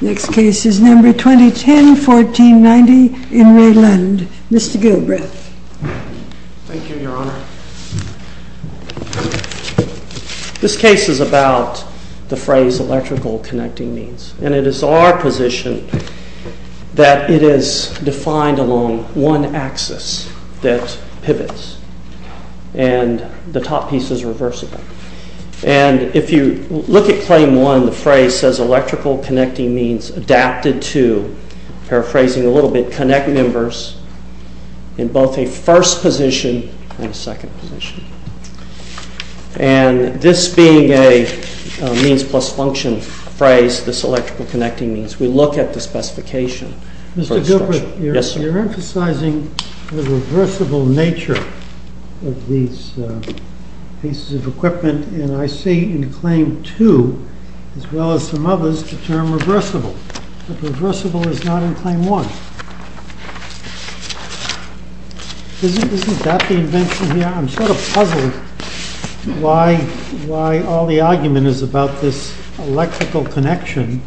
Next case is number 2010-1490 in Ray Lund. Mr. Gilbreth. Thank you, Your Honor. This case is about the phrase electrical connecting means. And it is our position that it is defined along one axis that pivots. And the top piece is reversible. And if you look at claim one, the phrase says electrical connecting means adapted to, paraphrasing a little bit, connect members in both a first position and a second position. And this being a means plus function phrase, this electrical connecting means, we look at the specification. Mr. Gilbreth, you're emphasizing the reversible nature of these pieces of equipment. And I see in claim two, as well as some others, the term reversible. But reversible is not in claim one. Isn't that the invention here? I'm sort of puzzled why all the argument is about this electrical connection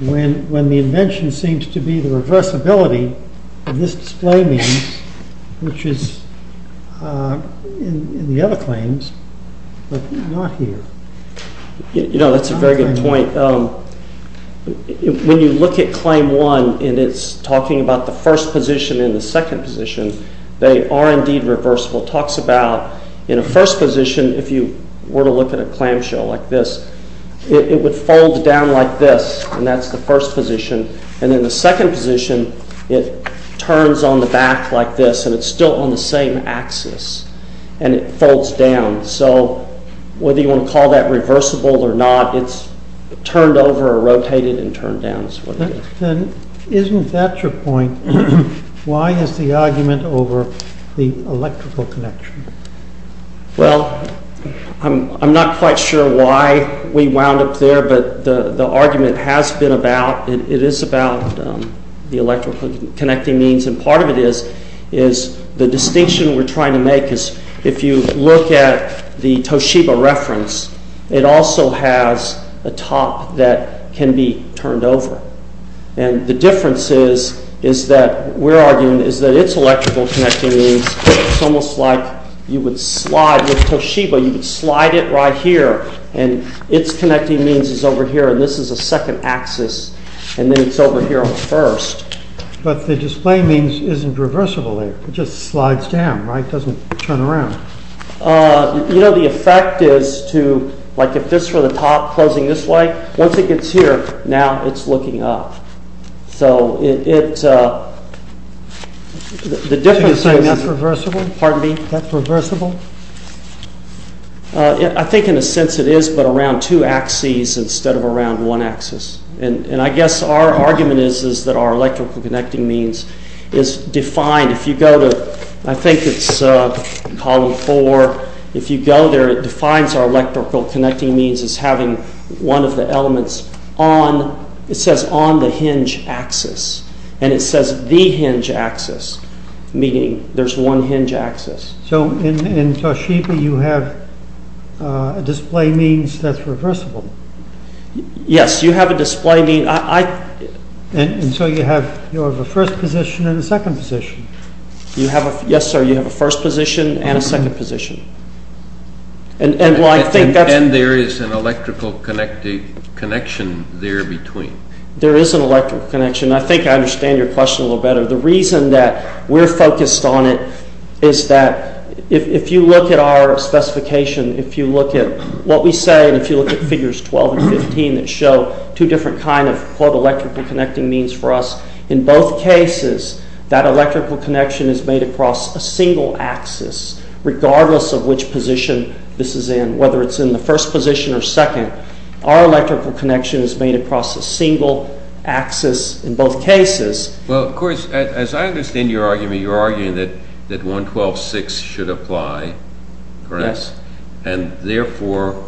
when the invention seems to be the reversibility of this display means, which is in the other claims, but not here. You know, that's a very good point. When you look at claim one, and it's talking about the first position and the second position, they are indeed reversible. It talks about, in a first position, if you were to look at a clamshell like this, it would fold down like this, and that's the first position. And in the second position, it turns on the back like this, and it's still on the same axis, and it folds down. So, whether you want to call that reversible or not, it's turned over or rotated and turned down. Isn't that your point? Why is the argument over the electrical connection? Well, I'm not quite sure why we wound up there, but the argument has been about, it is about the electrical connecting means, and part of it is the distinction we're trying to make. If you look at the Toshiba reference, it also has a top that can be turned over. And the difference is that we're arguing that it's electrical connecting means. It's almost like you would slide, with Toshiba, you would slide it right here, and its connecting means is over here, and this is a second axis, and then it's over here on the first. But the display means isn't reversible there. It just slides down, right? It doesn't turn around. You know, the effect is to, like if this were the top closing this way, once it gets here, now it's looking up. So the difference is... So you're saying that's reversible? Pardon me? That's reversible? I think in a sense it is, but around two axes instead of around one axis. And I guess our argument is that our electrical connecting means is defined. If you go to, I think it's column four, if you go there, it defines our electrical connecting means as having one of the elements on, it says on the hinge axis, and it says the hinge axis, meaning there's one hinge axis. So in Toshiba you have a display means that's reversible? Yes, you have a display mean. And so you have a first position and a second position? Yes, sir, you have a first position and a second position. And there is an electrical connection there between? There is an electrical connection. I think I understand your question a little better. The reason that we're focused on it is that if you look at our specification, if you look at what we say, and if you look at figures 12 and 15 that show two different kinds of electrical connecting means for us, in both cases that electrical connection is made across a single axis, regardless of which position this is in, whether it's in the first position or second, our electrical connection is made across a single axis in both cases. Well, of course, as I understand your argument, you're arguing that 112.6 should apply, correct? Yes. And therefore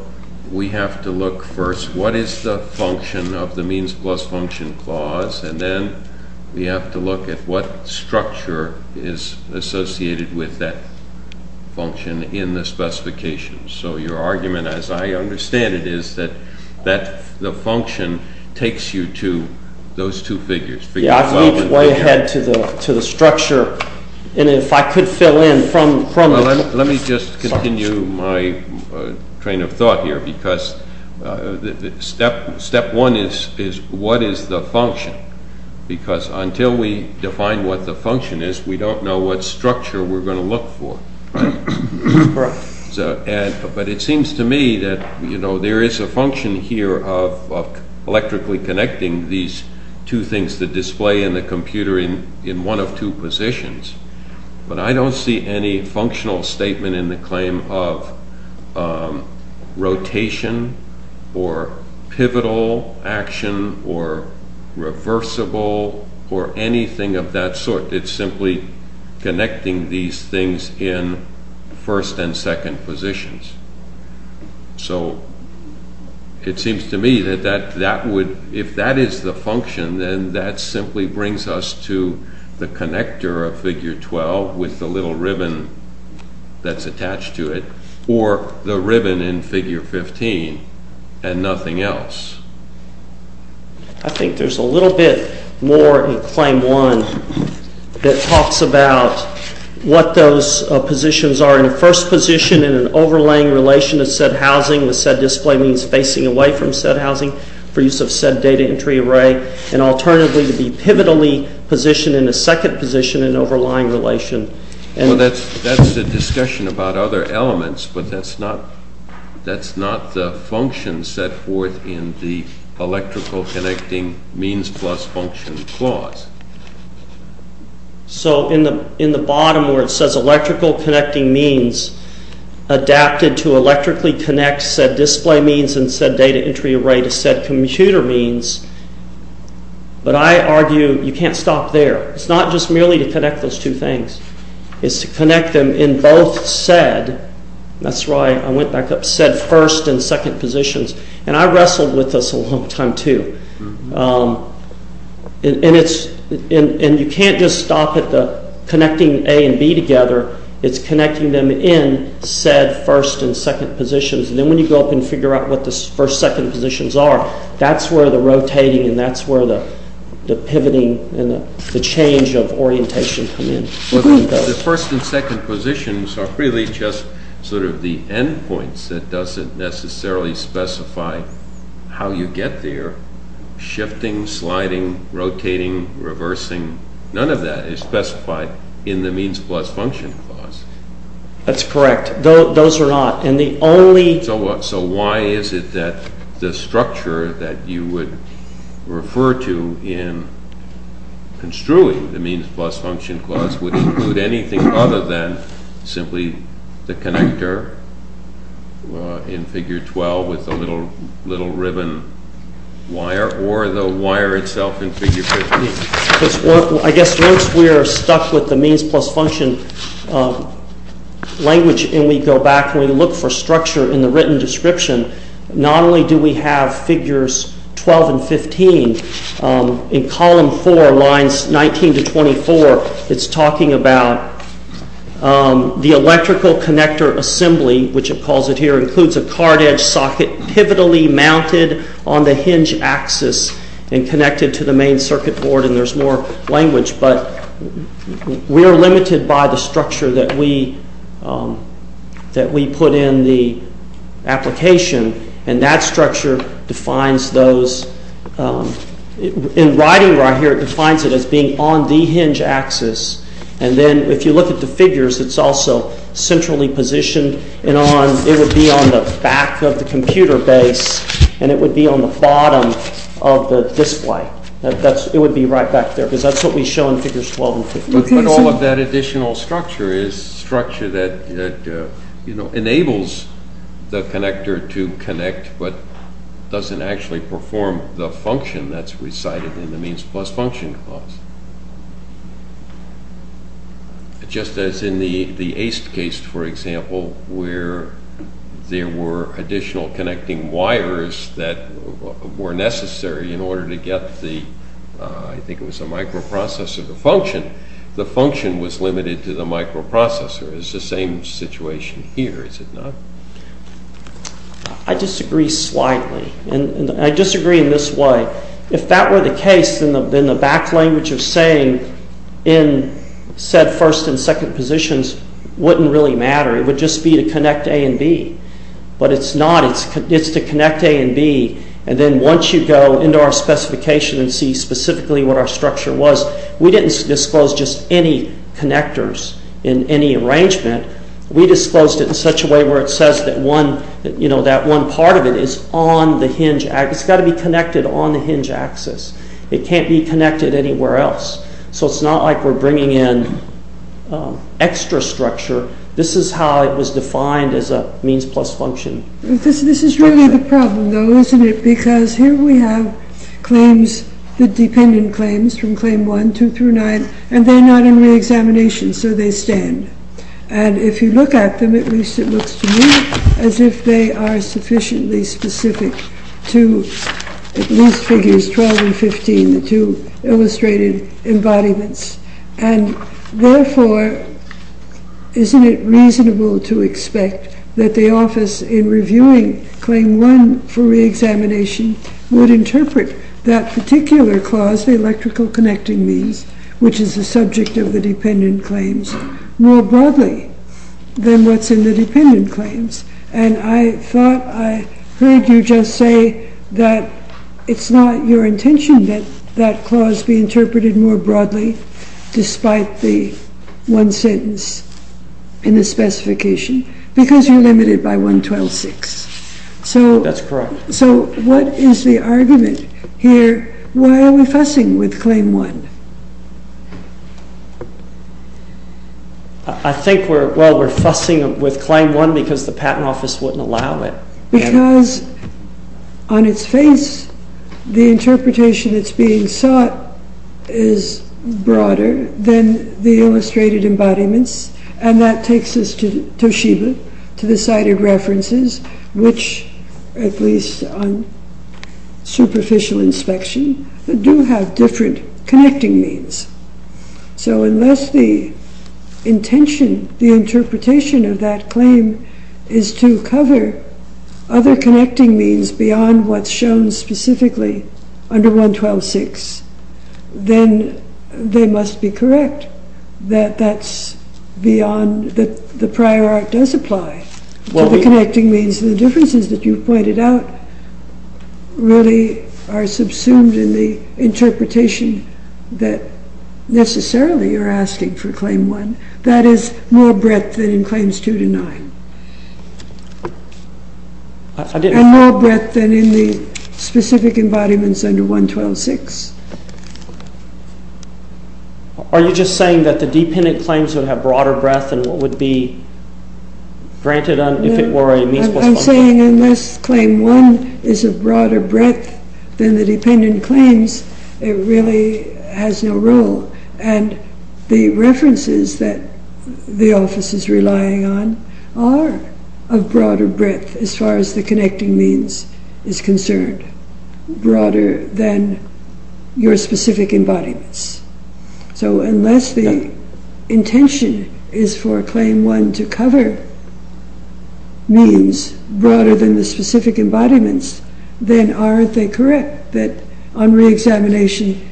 we have to look first, what is the function of the means plus function clause, and then we have to look at what structure is associated with that function in the specification. So your argument, as I understand it, is that the function takes you to those two figures, figures 12 and 15. Yes, I think it's way ahead to the structure, and if I could fill in from this. Let me just continue my train of thought here, because step one is what is the function, because until we define what the function is, we don't know what structure we're going to look for. But it seems to me that there is a function here of electrically connecting these two things, which is the display in the computer in one of two positions, but I don't see any functional statement in the claim of rotation or pivotal action or reversible or anything of that sort. It's simply connecting these things in first and second positions. So it seems to me that if that is the function, then that simply brings us to the connector of figure 12 with the little ribbon that's attached to it, or the ribbon in figure 15 and nothing else. I think there's a little bit more in claim one that talks about what those positions are. They're in a first position in an overlaying relation of said housing, with said display means facing away from said housing for use of said data entry array, and alternatively to be pivotally positioned in a second position in an overlying relation. Well, that's a discussion about other elements, but that's not the function set forth in the electrical connecting means plus function clause. So in the bottom where it says electrical connecting means adapted to electrically connect said display means and said data entry array to said computer means, but I argue you can't stop there. It's not just merely to connect those two things. It's to connect them in both said, that's right, I went back up, said first and second positions, and I wrestled with this a long time too. And you can't just stop at the connecting A and B together. It's connecting them in said first and second positions, and then when you go up and figure out what the first and second positions are, that's where the rotating and that's where the pivoting and the change of orientation come in. The first and second positions are really just sort of the end points. It doesn't necessarily specify how you get there. Shifting, sliding, rotating, reversing, none of that is specified in the means plus function clause. That's correct. Those are not. So why is it that the structure that you would refer to in construing the means plus function clause would include anything other than simply the connector in figure 12 with the little ribbon wire or the wire itself in figure 15? I guess once we are stuck with the means plus function language and we go back and we look for structure in the written description, not only do we have figures 12 and 15, in column 4, lines 19 to 24, it's talking about the electrical connector assembly, which it calls it here, includes a card edge socket pivotally mounted on the hinge axis and connected to the main circuit board and there's more language, but we are limited by the structure that we put in the application and that structure defines those. In writing right here, it defines it as being on the hinge axis and then if you look at the figures, it's also centrally positioned and it would be on the back of the computer base and it would be on the bottom of the display. It would be right back there because that's what we show in figures 12 and 15. But all of that additional structure is structure that enables the connector to connect but doesn't actually perform the function that's recited in the means plus function clause. Just as in the ACE case, for example, where there were additional connecting wires that were necessary in order to get the microprocessor to function, the function was limited to the microprocessor. It's the same situation here, is it not? I disagree slightly and I disagree in this way. If that were the case, then the back language of saying in said first and second positions wouldn't really matter. It would just be to connect A and B. But it's not. It's to connect A and B. And then once you go into our specification and see specifically what our structure was, we didn't disclose just any connectors in any arrangement. We disclosed it in such a way where it says that one part of it is on the hinge. It's got to be connected on the hinge axis. It can't be connected anywhere else. So it's not like we're bringing in extra structure. This is how it was defined as a means plus function. This is really the problem, though, isn't it? Because here we have claims, the dependent claims from Claim 1, 2 through 9, and they're not in reexamination, so they stand. And if you look at them, at least it looks to me as if they are sufficiently specific to at least Figures 12 and 15, the two illustrated embodiments. And therefore, isn't it reasonable to expect that the office in reviewing Claim 1 for reexamination would interpret that particular clause, the electrical connecting means, which is the subject of the dependent claims, more broadly than what's in the dependent claims? And I thought I heard you just say that it's not your intention that that clause be interpreted more broadly despite the one sentence in the specification, because you're limited by 112.6. That's correct. So what is the argument here? Why are we fussing with Claim 1? I think we're fussing with Claim 1 because the Patent Office wouldn't allow it. Because on its face, the interpretation that's being sought is broader than the illustrated embodiments, and that takes us to Toshiba, to the cited references, which, at least on superficial inspection, do have different connecting means. So unless the intention, the interpretation of that claim is to cover other connecting means beyond what's shown specifically under 112.6, then they must be correct, that the prior art does apply to the connecting means. The differences that you've pointed out really are subsumed in the interpretation that necessarily you're asking for Claim 1. That is, more breadth than in Claims 2 to 9, and more breadth than in the specific embodiments under 112.6. Are you just saying that the dependent claims would have broader breadth than what would be granted if it were a means plus function? I'm saying unless Claim 1 is a broader breadth than the dependent claims, it really has no role, and the references that the Office is relying on are of broader breadth as far as the connecting means is concerned, broader than your specific embodiments. So unless the intention is for Claim 1 to cover means broader than the specific embodiments, then aren't they correct that on reexamination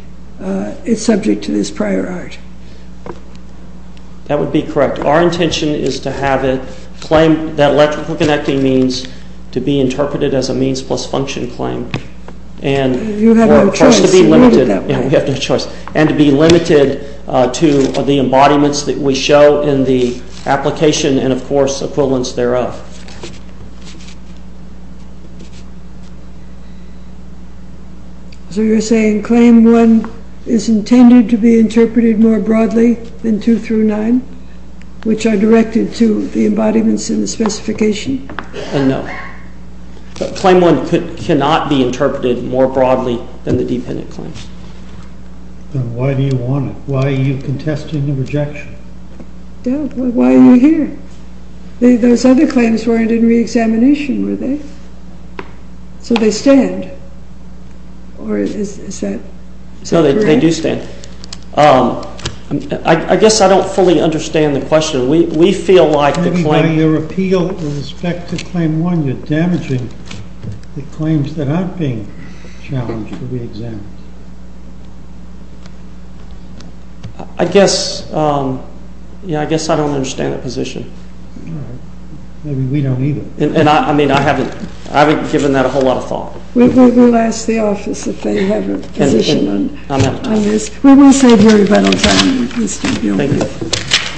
it's subject to this prior art? That would be correct. Our intention is to have it claim that electrical connecting means to be interpreted as a means plus function claim. You have no choice. We have no choice. And to be limited to the embodiments that we show in the application and, of course, equivalence thereof. So you're saying Claim 1 is intended to be interpreted more broadly than 2 through 9, which are directed to the embodiments in the specification? No. Claim 1 cannot be interpreted more broadly than the dependent claims. Then why do you want it? Why are you contesting the rejection? Why are you here? Those other claims weren't in reexamination, were they? So they stand, or is that correct? No, they do stand. I guess I don't fully understand the question. We feel like the claim— Maybe by your appeal with respect to Claim 1, you're damaging the claims that aren't being challenged for reexamination. I guess I don't understand the position. All right. Maybe we don't either. I haven't given that a whole lot of thought. We'll ask the office if they have a position on this. We will save your rebuttal time, Mr. Buol. Thank you.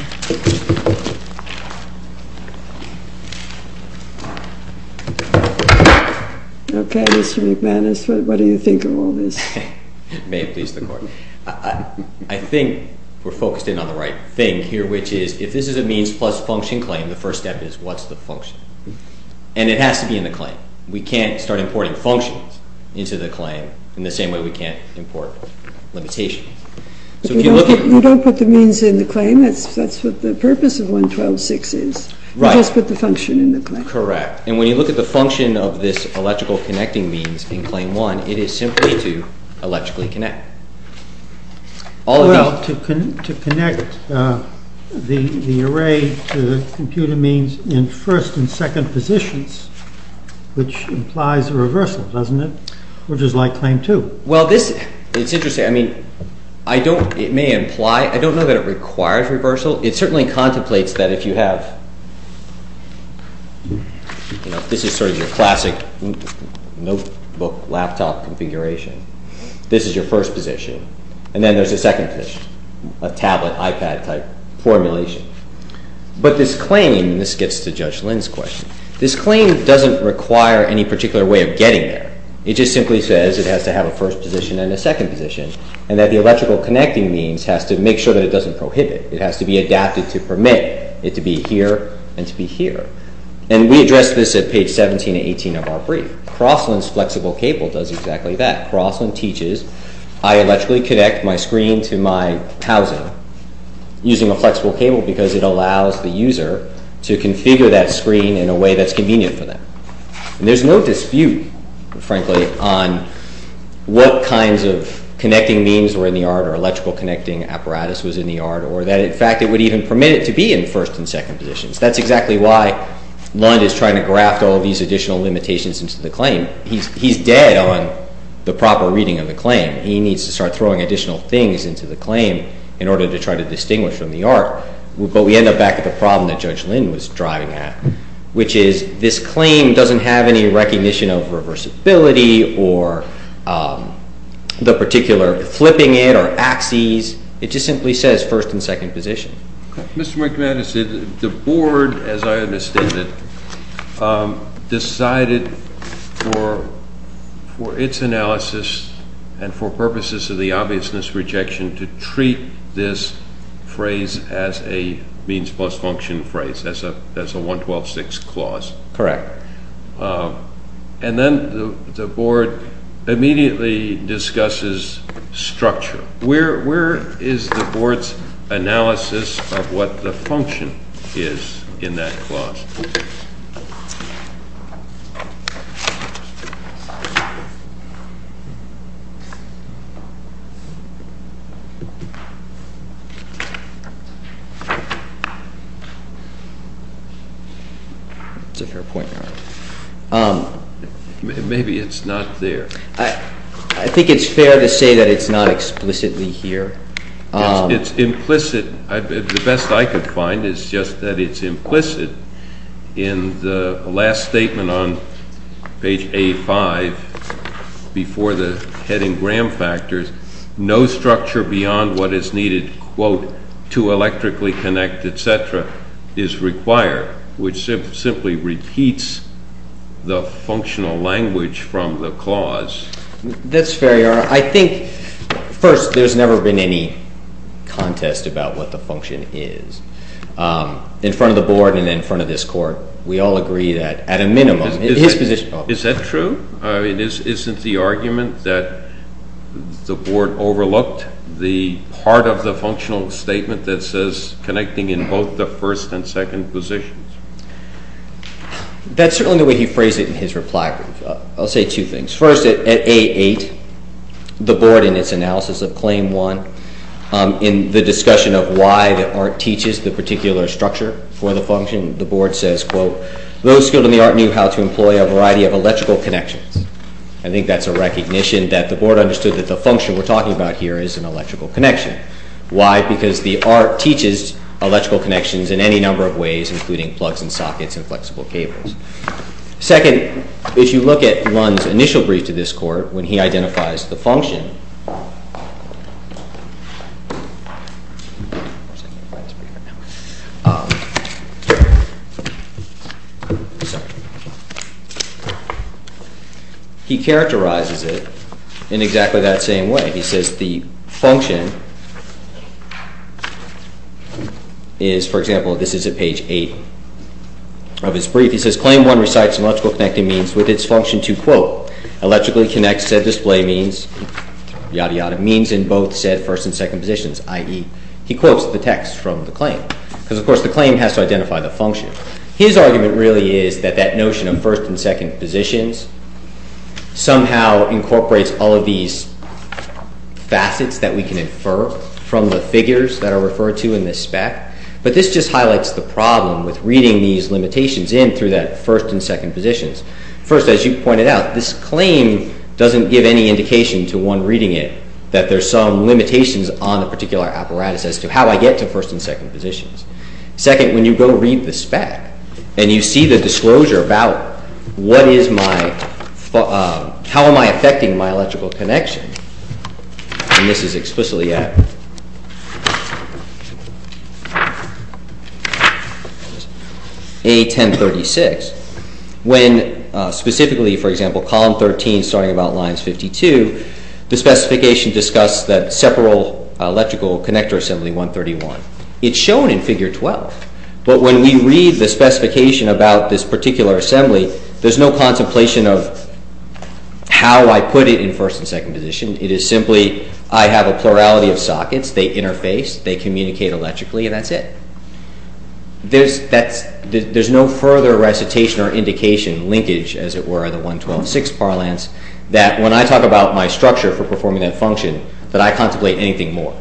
Okay, Mr. McManus, what do you think of all this? May it please the Court. I think we're focused in on the right thing here, which is if this is a means plus function claim, the first step is what's the function? And it has to be in the claim. We can't start importing functions into the claim in the same way we can't import limitations. You don't put the means in the claim. That's what the purpose of 112.6 is. You just put the function in the claim. Correct. And when you look at the function of this electrical connecting means in Claim 1, it is simply to electrically connect. Well, to connect the array to the computer means in first and second positions, which implies a reversal, doesn't it? Which is like Claim 2. Well, it's interesting. I mean, it may imply. I don't know that it requires reversal. It certainly contemplates that if you have, you know, this is sort of your classic notebook, laptop configuration. This is your first position, and then there's a second position, a tablet, iPad-type formulation. But this claim, and this gets to Judge Lynn's question, this claim doesn't require any particular way of getting there. It just simply says it has to have a first position and a second position and that the electrical connecting means has to make sure that it doesn't prohibit. It has to be adapted to permit it to be here and to be here. And we addressed this at page 17 and 18 of our brief. Crossland's flexible cable does exactly that. Crossland teaches I electrically connect my screen to my housing using a flexible cable because it allows the user to configure that screen in a way that's convenient for them. And there's no dispute, frankly, on what kinds of connecting means were in the art or electrical connecting apparatus was in the art or that, in fact, it would even permit it to be in first and second positions. That's exactly why Lund is trying to graft all these additional limitations into the claim. He's dead on the proper reading of the claim. He needs to start throwing additional things into the claim in order to try to distinguish from the art. But we end up back at the problem that Judge Lynn was driving at, which is this claim doesn't have any recognition of reversibility or the particular flipping it or axes. It just simply says first and second position. Mr. McManus, the board, as I understand it, decided for its analysis and for purposes of the obviousness rejection to treat this phrase as a means plus function phrase, as a 112-6 clause. Correct. And then the board immediately discusses structure. Where is the board's analysis of what the function is in that clause? That's a fair point. Maybe it's not there. I think it's fair to say that it's not explicitly here. It's implicit. The best I could find is just that it's implicit in the last statement on page A-5 before the heading gram factors. No structure beyond what is needed, quote, to electrically connect, et cetera, is required, which simply repeats the functional language from the clause. That's fair, Your Honor. I think, first, there's never been any contest about what the function is. In front of the board and in front of this Court, we all agree that at a minimum. Is that true? I mean, isn't the argument that the board overlooked the part of the functional statement that says connecting in both the first and second positions? That's certainly the way he phrased it in his reply. I'll say two things. First, at A-8, the board in its analysis of Claim 1, in the discussion of why the art teaches the particular structure for the function, the board says, quote, those skilled in the art knew how to employ a variety of electrical connections. I think that's a recognition that the board understood that the function we're talking about here is an electrical connection. Why? Because the art teaches electrical connections in any number of ways, including plugs and sockets and flexible cables. Second, if you look at Lund's initial brief to this Court, when he identifies the function, he characterizes it in exactly that same way. He says the function is, for example, this is at page 8 of his brief. He says Claim 1 recites an electrical connecting means with its function to, quote, electrically connect said display means, yada yada, means in both said first and second positions, i.e. He quotes the text from the claim. Because, of course, the claim has to identify the function. His argument really is that that notion of first and second positions somehow incorporates all of these facets that we can infer from the figures that are referred to in this spec. But this just highlights the problem with reading these limitations in through that first and second positions. First, as you pointed out, this claim doesn't give any indication to one reading it that there's some limitations on a particular apparatus as to how I get to first and second positions. Second, when you go read the spec and you see the disclosure about how am I affecting my electrical connection, and this is explicitly at A1036, when specifically, for example, column 13 starting about lines 52, the specification discusses that separal electrical connector assembly 131. It's shown in figure 12. But when we read the specification about this particular assembly, there's no contemplation of how I put it in first and second position. It is simply, I have a plurality of sockets, they interface, they communicate electrically, and that's it. There's no further recitation or indication, linkage, as it were, of the 112.6 parlance, that when I talk about my structure for performing that function, that I contemplate anything more.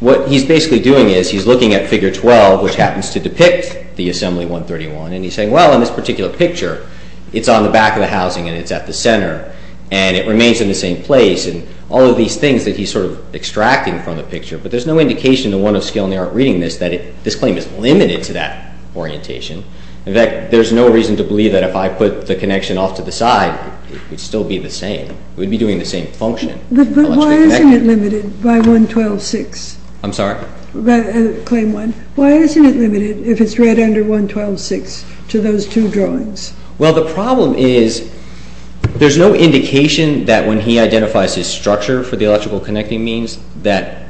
What he's basically doing is he's looking at figure 12, which happens to depict the assembly 131, and he's saying, well, in this particular picture, it's on the back of the housing and it's at the center, and it remains in the same place, and all of these things that he's sort of extracting from the picture, but there's no indication in the one of skill in the art reading this that this claim is limited to that orientation. In fact, there's no reason to believe that if I put the connection off to the side, it would still be the same. We'd be doing the same function. But why isn't it limited by 112.6? I'm sorry? Claim one. Why isn't it limited if it's read under 112.6 to those two drawings? Well, the problem is there's no indication that when he identifies his structure for the electrical connecting means that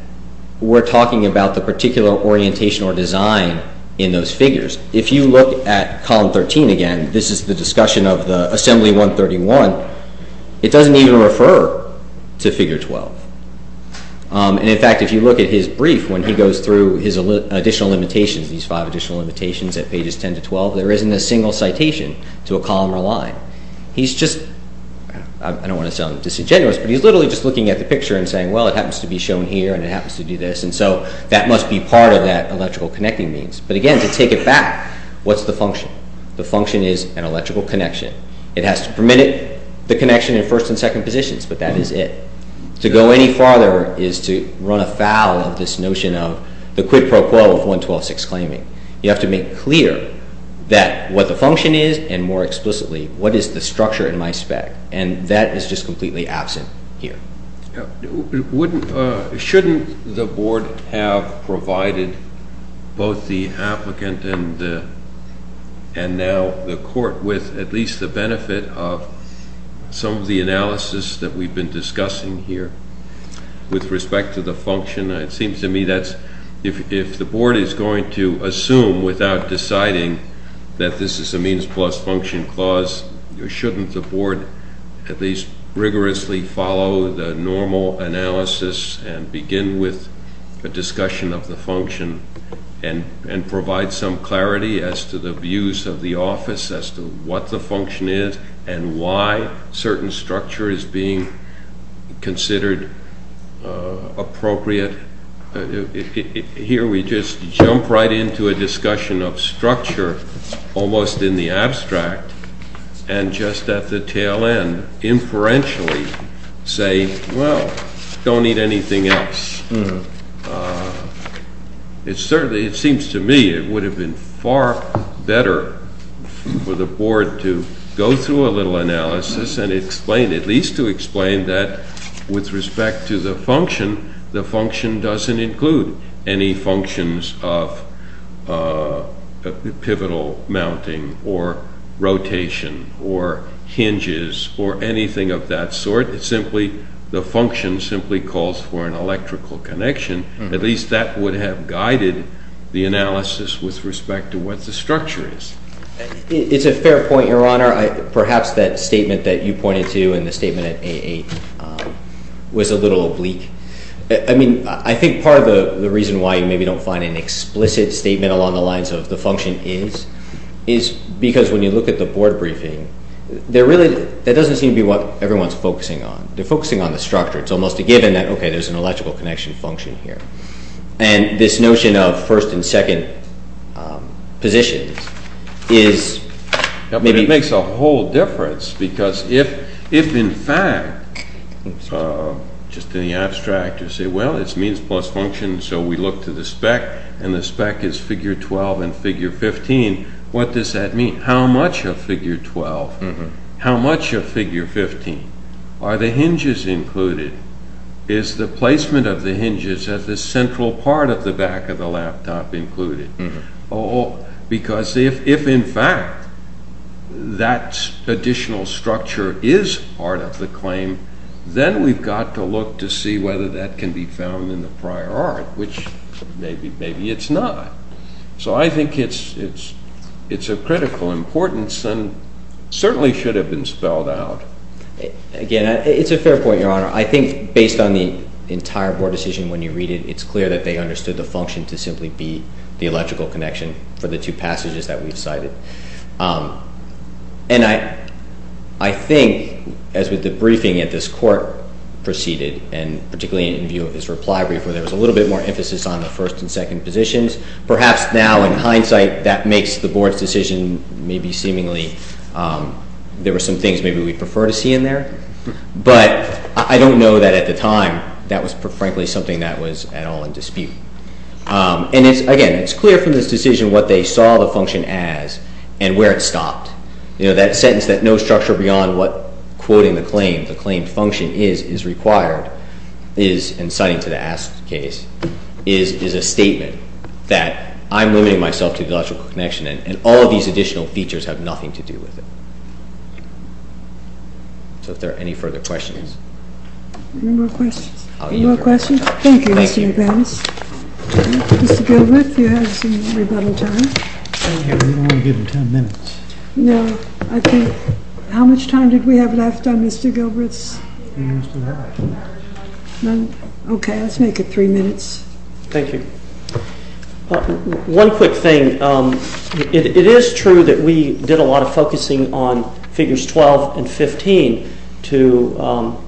we're talking about the particular orientation or design in those figures. If you look at column 13 again, this is the discussion of the assembly 131, it doesn't even refer to figure 12. In fact, if you look at his brief, when he goes through his additional limitations, these five additional limitations at pages 10 to 12, there isn't a single citation to a column or line. He's just, I don't want to sound disingenuous, but he's literally just looking at the picture and saying, well, it happens to be shown here and it happens to do this, and so that must be part of that electrical connecting means. But again, to take it back, what's the function? The function is an electrical connection. It has to permit the connection in first and second positions, but that is it. To go any farther is to run afoul of this notion of the quid pro quo of 112.6 claiming. You have to make clear that what the function is and, more explicitly, what is the structure in my spec, and that is just completely absent here. Shouldn't the board have provided both the applicant and now the court with at least the benefit of some of the analysis that we've been discussing here with respect to the function? It seems to me that if the board is going to assume without deciding that this is a means plus function clause, shouldn't the board at least rigorously follow the normal analysis and begin with a discussion of the function and provide some clarity as to the views of the office as to what the function is and why certain structure is being considered appropriate? Here we just jump right into a discussion of structure almost in the abstract and just at the tail end, inferentially, say, well, don't need anything else. It seems to me it would have been far better for the board to go through a little analysis and at least to explain that with respect to the function, the function doesn't include any functions of pivotal mounting or rotation or hinges or anything of that sort. The function simply calls for an electrical connection. At least that would have guided the analysis with respect to what the structure is. It's a fair point, Your Honor. Your Honor, perhaps that statement that you pointed to in the statement at A8 was a little oblique. I think part of the reason why you maybe don't find an explicit statement along the lines of the function is because when you look at the board briefing, that doesn't seem to be what everyone's focusing on. They're focusing on the structure. It's almost a given that, okay, there's an electrical connection function here. And this notion of first and second positions is maybe... But it makes a whole difference because if in fact, just in the abstract, you say, well, it's means plus function, so we look to the spec and the spec is figure 12 and figure 15, what does that mean? How much of figure 12, how much of figure 15 are the hinges included? Is the placement of the hinges at the central part of the back of the laptop included? Because if in fact that additional structure is part of the claim, then we've got to look to see whether that can be found in the prior art, which maybe it's not. So I think it's of critical importance and certainly should have been spelled out. Again, it's a fair point, Your Honor. I think based on the entire board decision when you read it, it's clear that they understood the function to simply be the electrical connection for the two passages that we've cited. And I think as with the briefing at this court preceded, and particularly in view of this reply brief, where there was a little bit more emphasis on the first and second positions, perhaps now in hindsight that makes the board's decision maybe seemingly... There were some things maybe we prefer to see in there. But I don't know that at the time that was frankly something that was at all in dispute. And again, it's clear from this decision what they saw the function as and where it stopped. That sentence that no structure beyond what quoting the claim, the claim function is, is required is, and citing to the asked case, is a statement that I'm limiting myself to the electrical connection and all of these additional features have nothing to do with it. So if there are any further questions. No more questions? No more questions? Thank you, Mr. McManus. Thank you. Mr. Gilbreth, you have some rebuttal time. Thank you. I'm only given ten minutes. No. I think... How much time did we have left on Mr. Gilbreth's? We have less than half an hour. None? Okay. Let's make it three minutes. Thank you. One quick thing. It is true that we did a lot of focusing on figures 12 and 15 to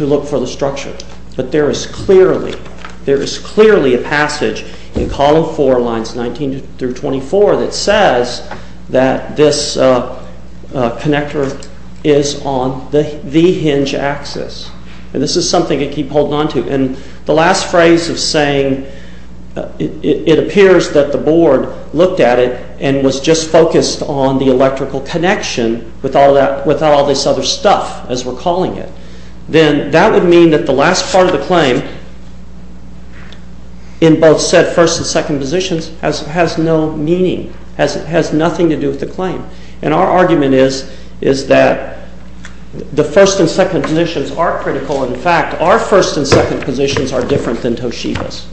look for the structure. But there is clearly, there is clearly a passage in column four lines 19 through 24 that says that this connector is on the hinge axis. And this is something I keep holding on to. And the last phrase of saying it appears that the board looked at it and was just focused on the electrical connection with all this other stuff, as we're calling it. Then that would mean that the last part of the claim, in both said first and second positions, has no meaning, has nothing to do with the claim. And our argument is that the first and second positions are critical. In fact, our first and second positions are different than Toshiba's.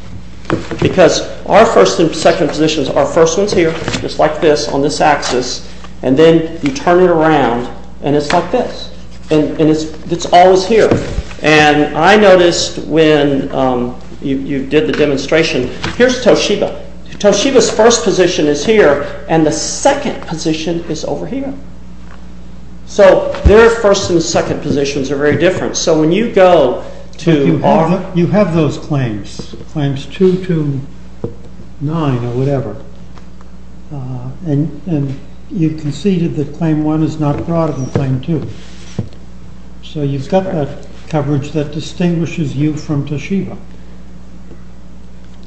Because our first and second positions are first ones here, just like this on this axis, and then you turn it around and it's like this. And it's always here. And I noticed when you did the demonstration, here's Toshiba. Toshiba's first position is here and the second position is over here. So their first and second positions are very different. So when you go to our- But you have those claims, claims 2 to 9 or whatever, and you conceded that claim 1 is not broader than claim 2. So you've got that coverage that distinguishes you from Toshiba.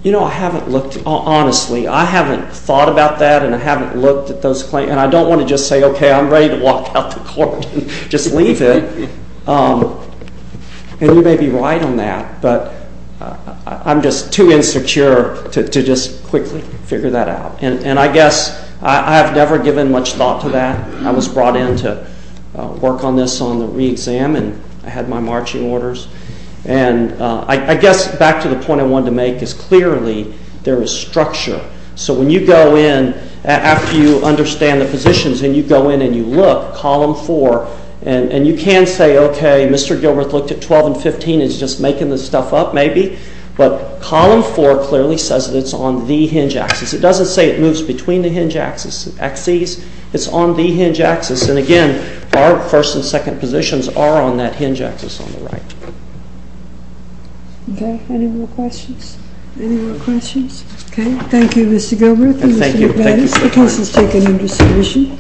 You know, I haven't looked. Honestly, I haven't thought about that and I haven't looked at those claims. And I don't want to just say, okay, I'm ready to walk out the court and just leave it. And you may be right on that, but I'm just too insecure to just quickly figure that out. And I guess I have never given much thought to that. I was brought in to work on this on the re-exam and I had my marching orders. And I guess back to the point I wanted to make is clearly there is structure. So when you go in, after you understand the positions, and you go in and you look, column 4, and you can say, okay, Mr. Gilbreth looked at 12 and 15 and is just making this stuff up maybe, but column 4 clearly says that it's on the hinge axis. It doesn't say it moves between the hinge axis and axes. It's on the hinge axis. And again, our first and second positions are on that hinge axis on the right. Okay. Any more questions? Any more questions? Okay. Thank you, Mr. Gilbreth and Mr. McManus. The case is taken into submission.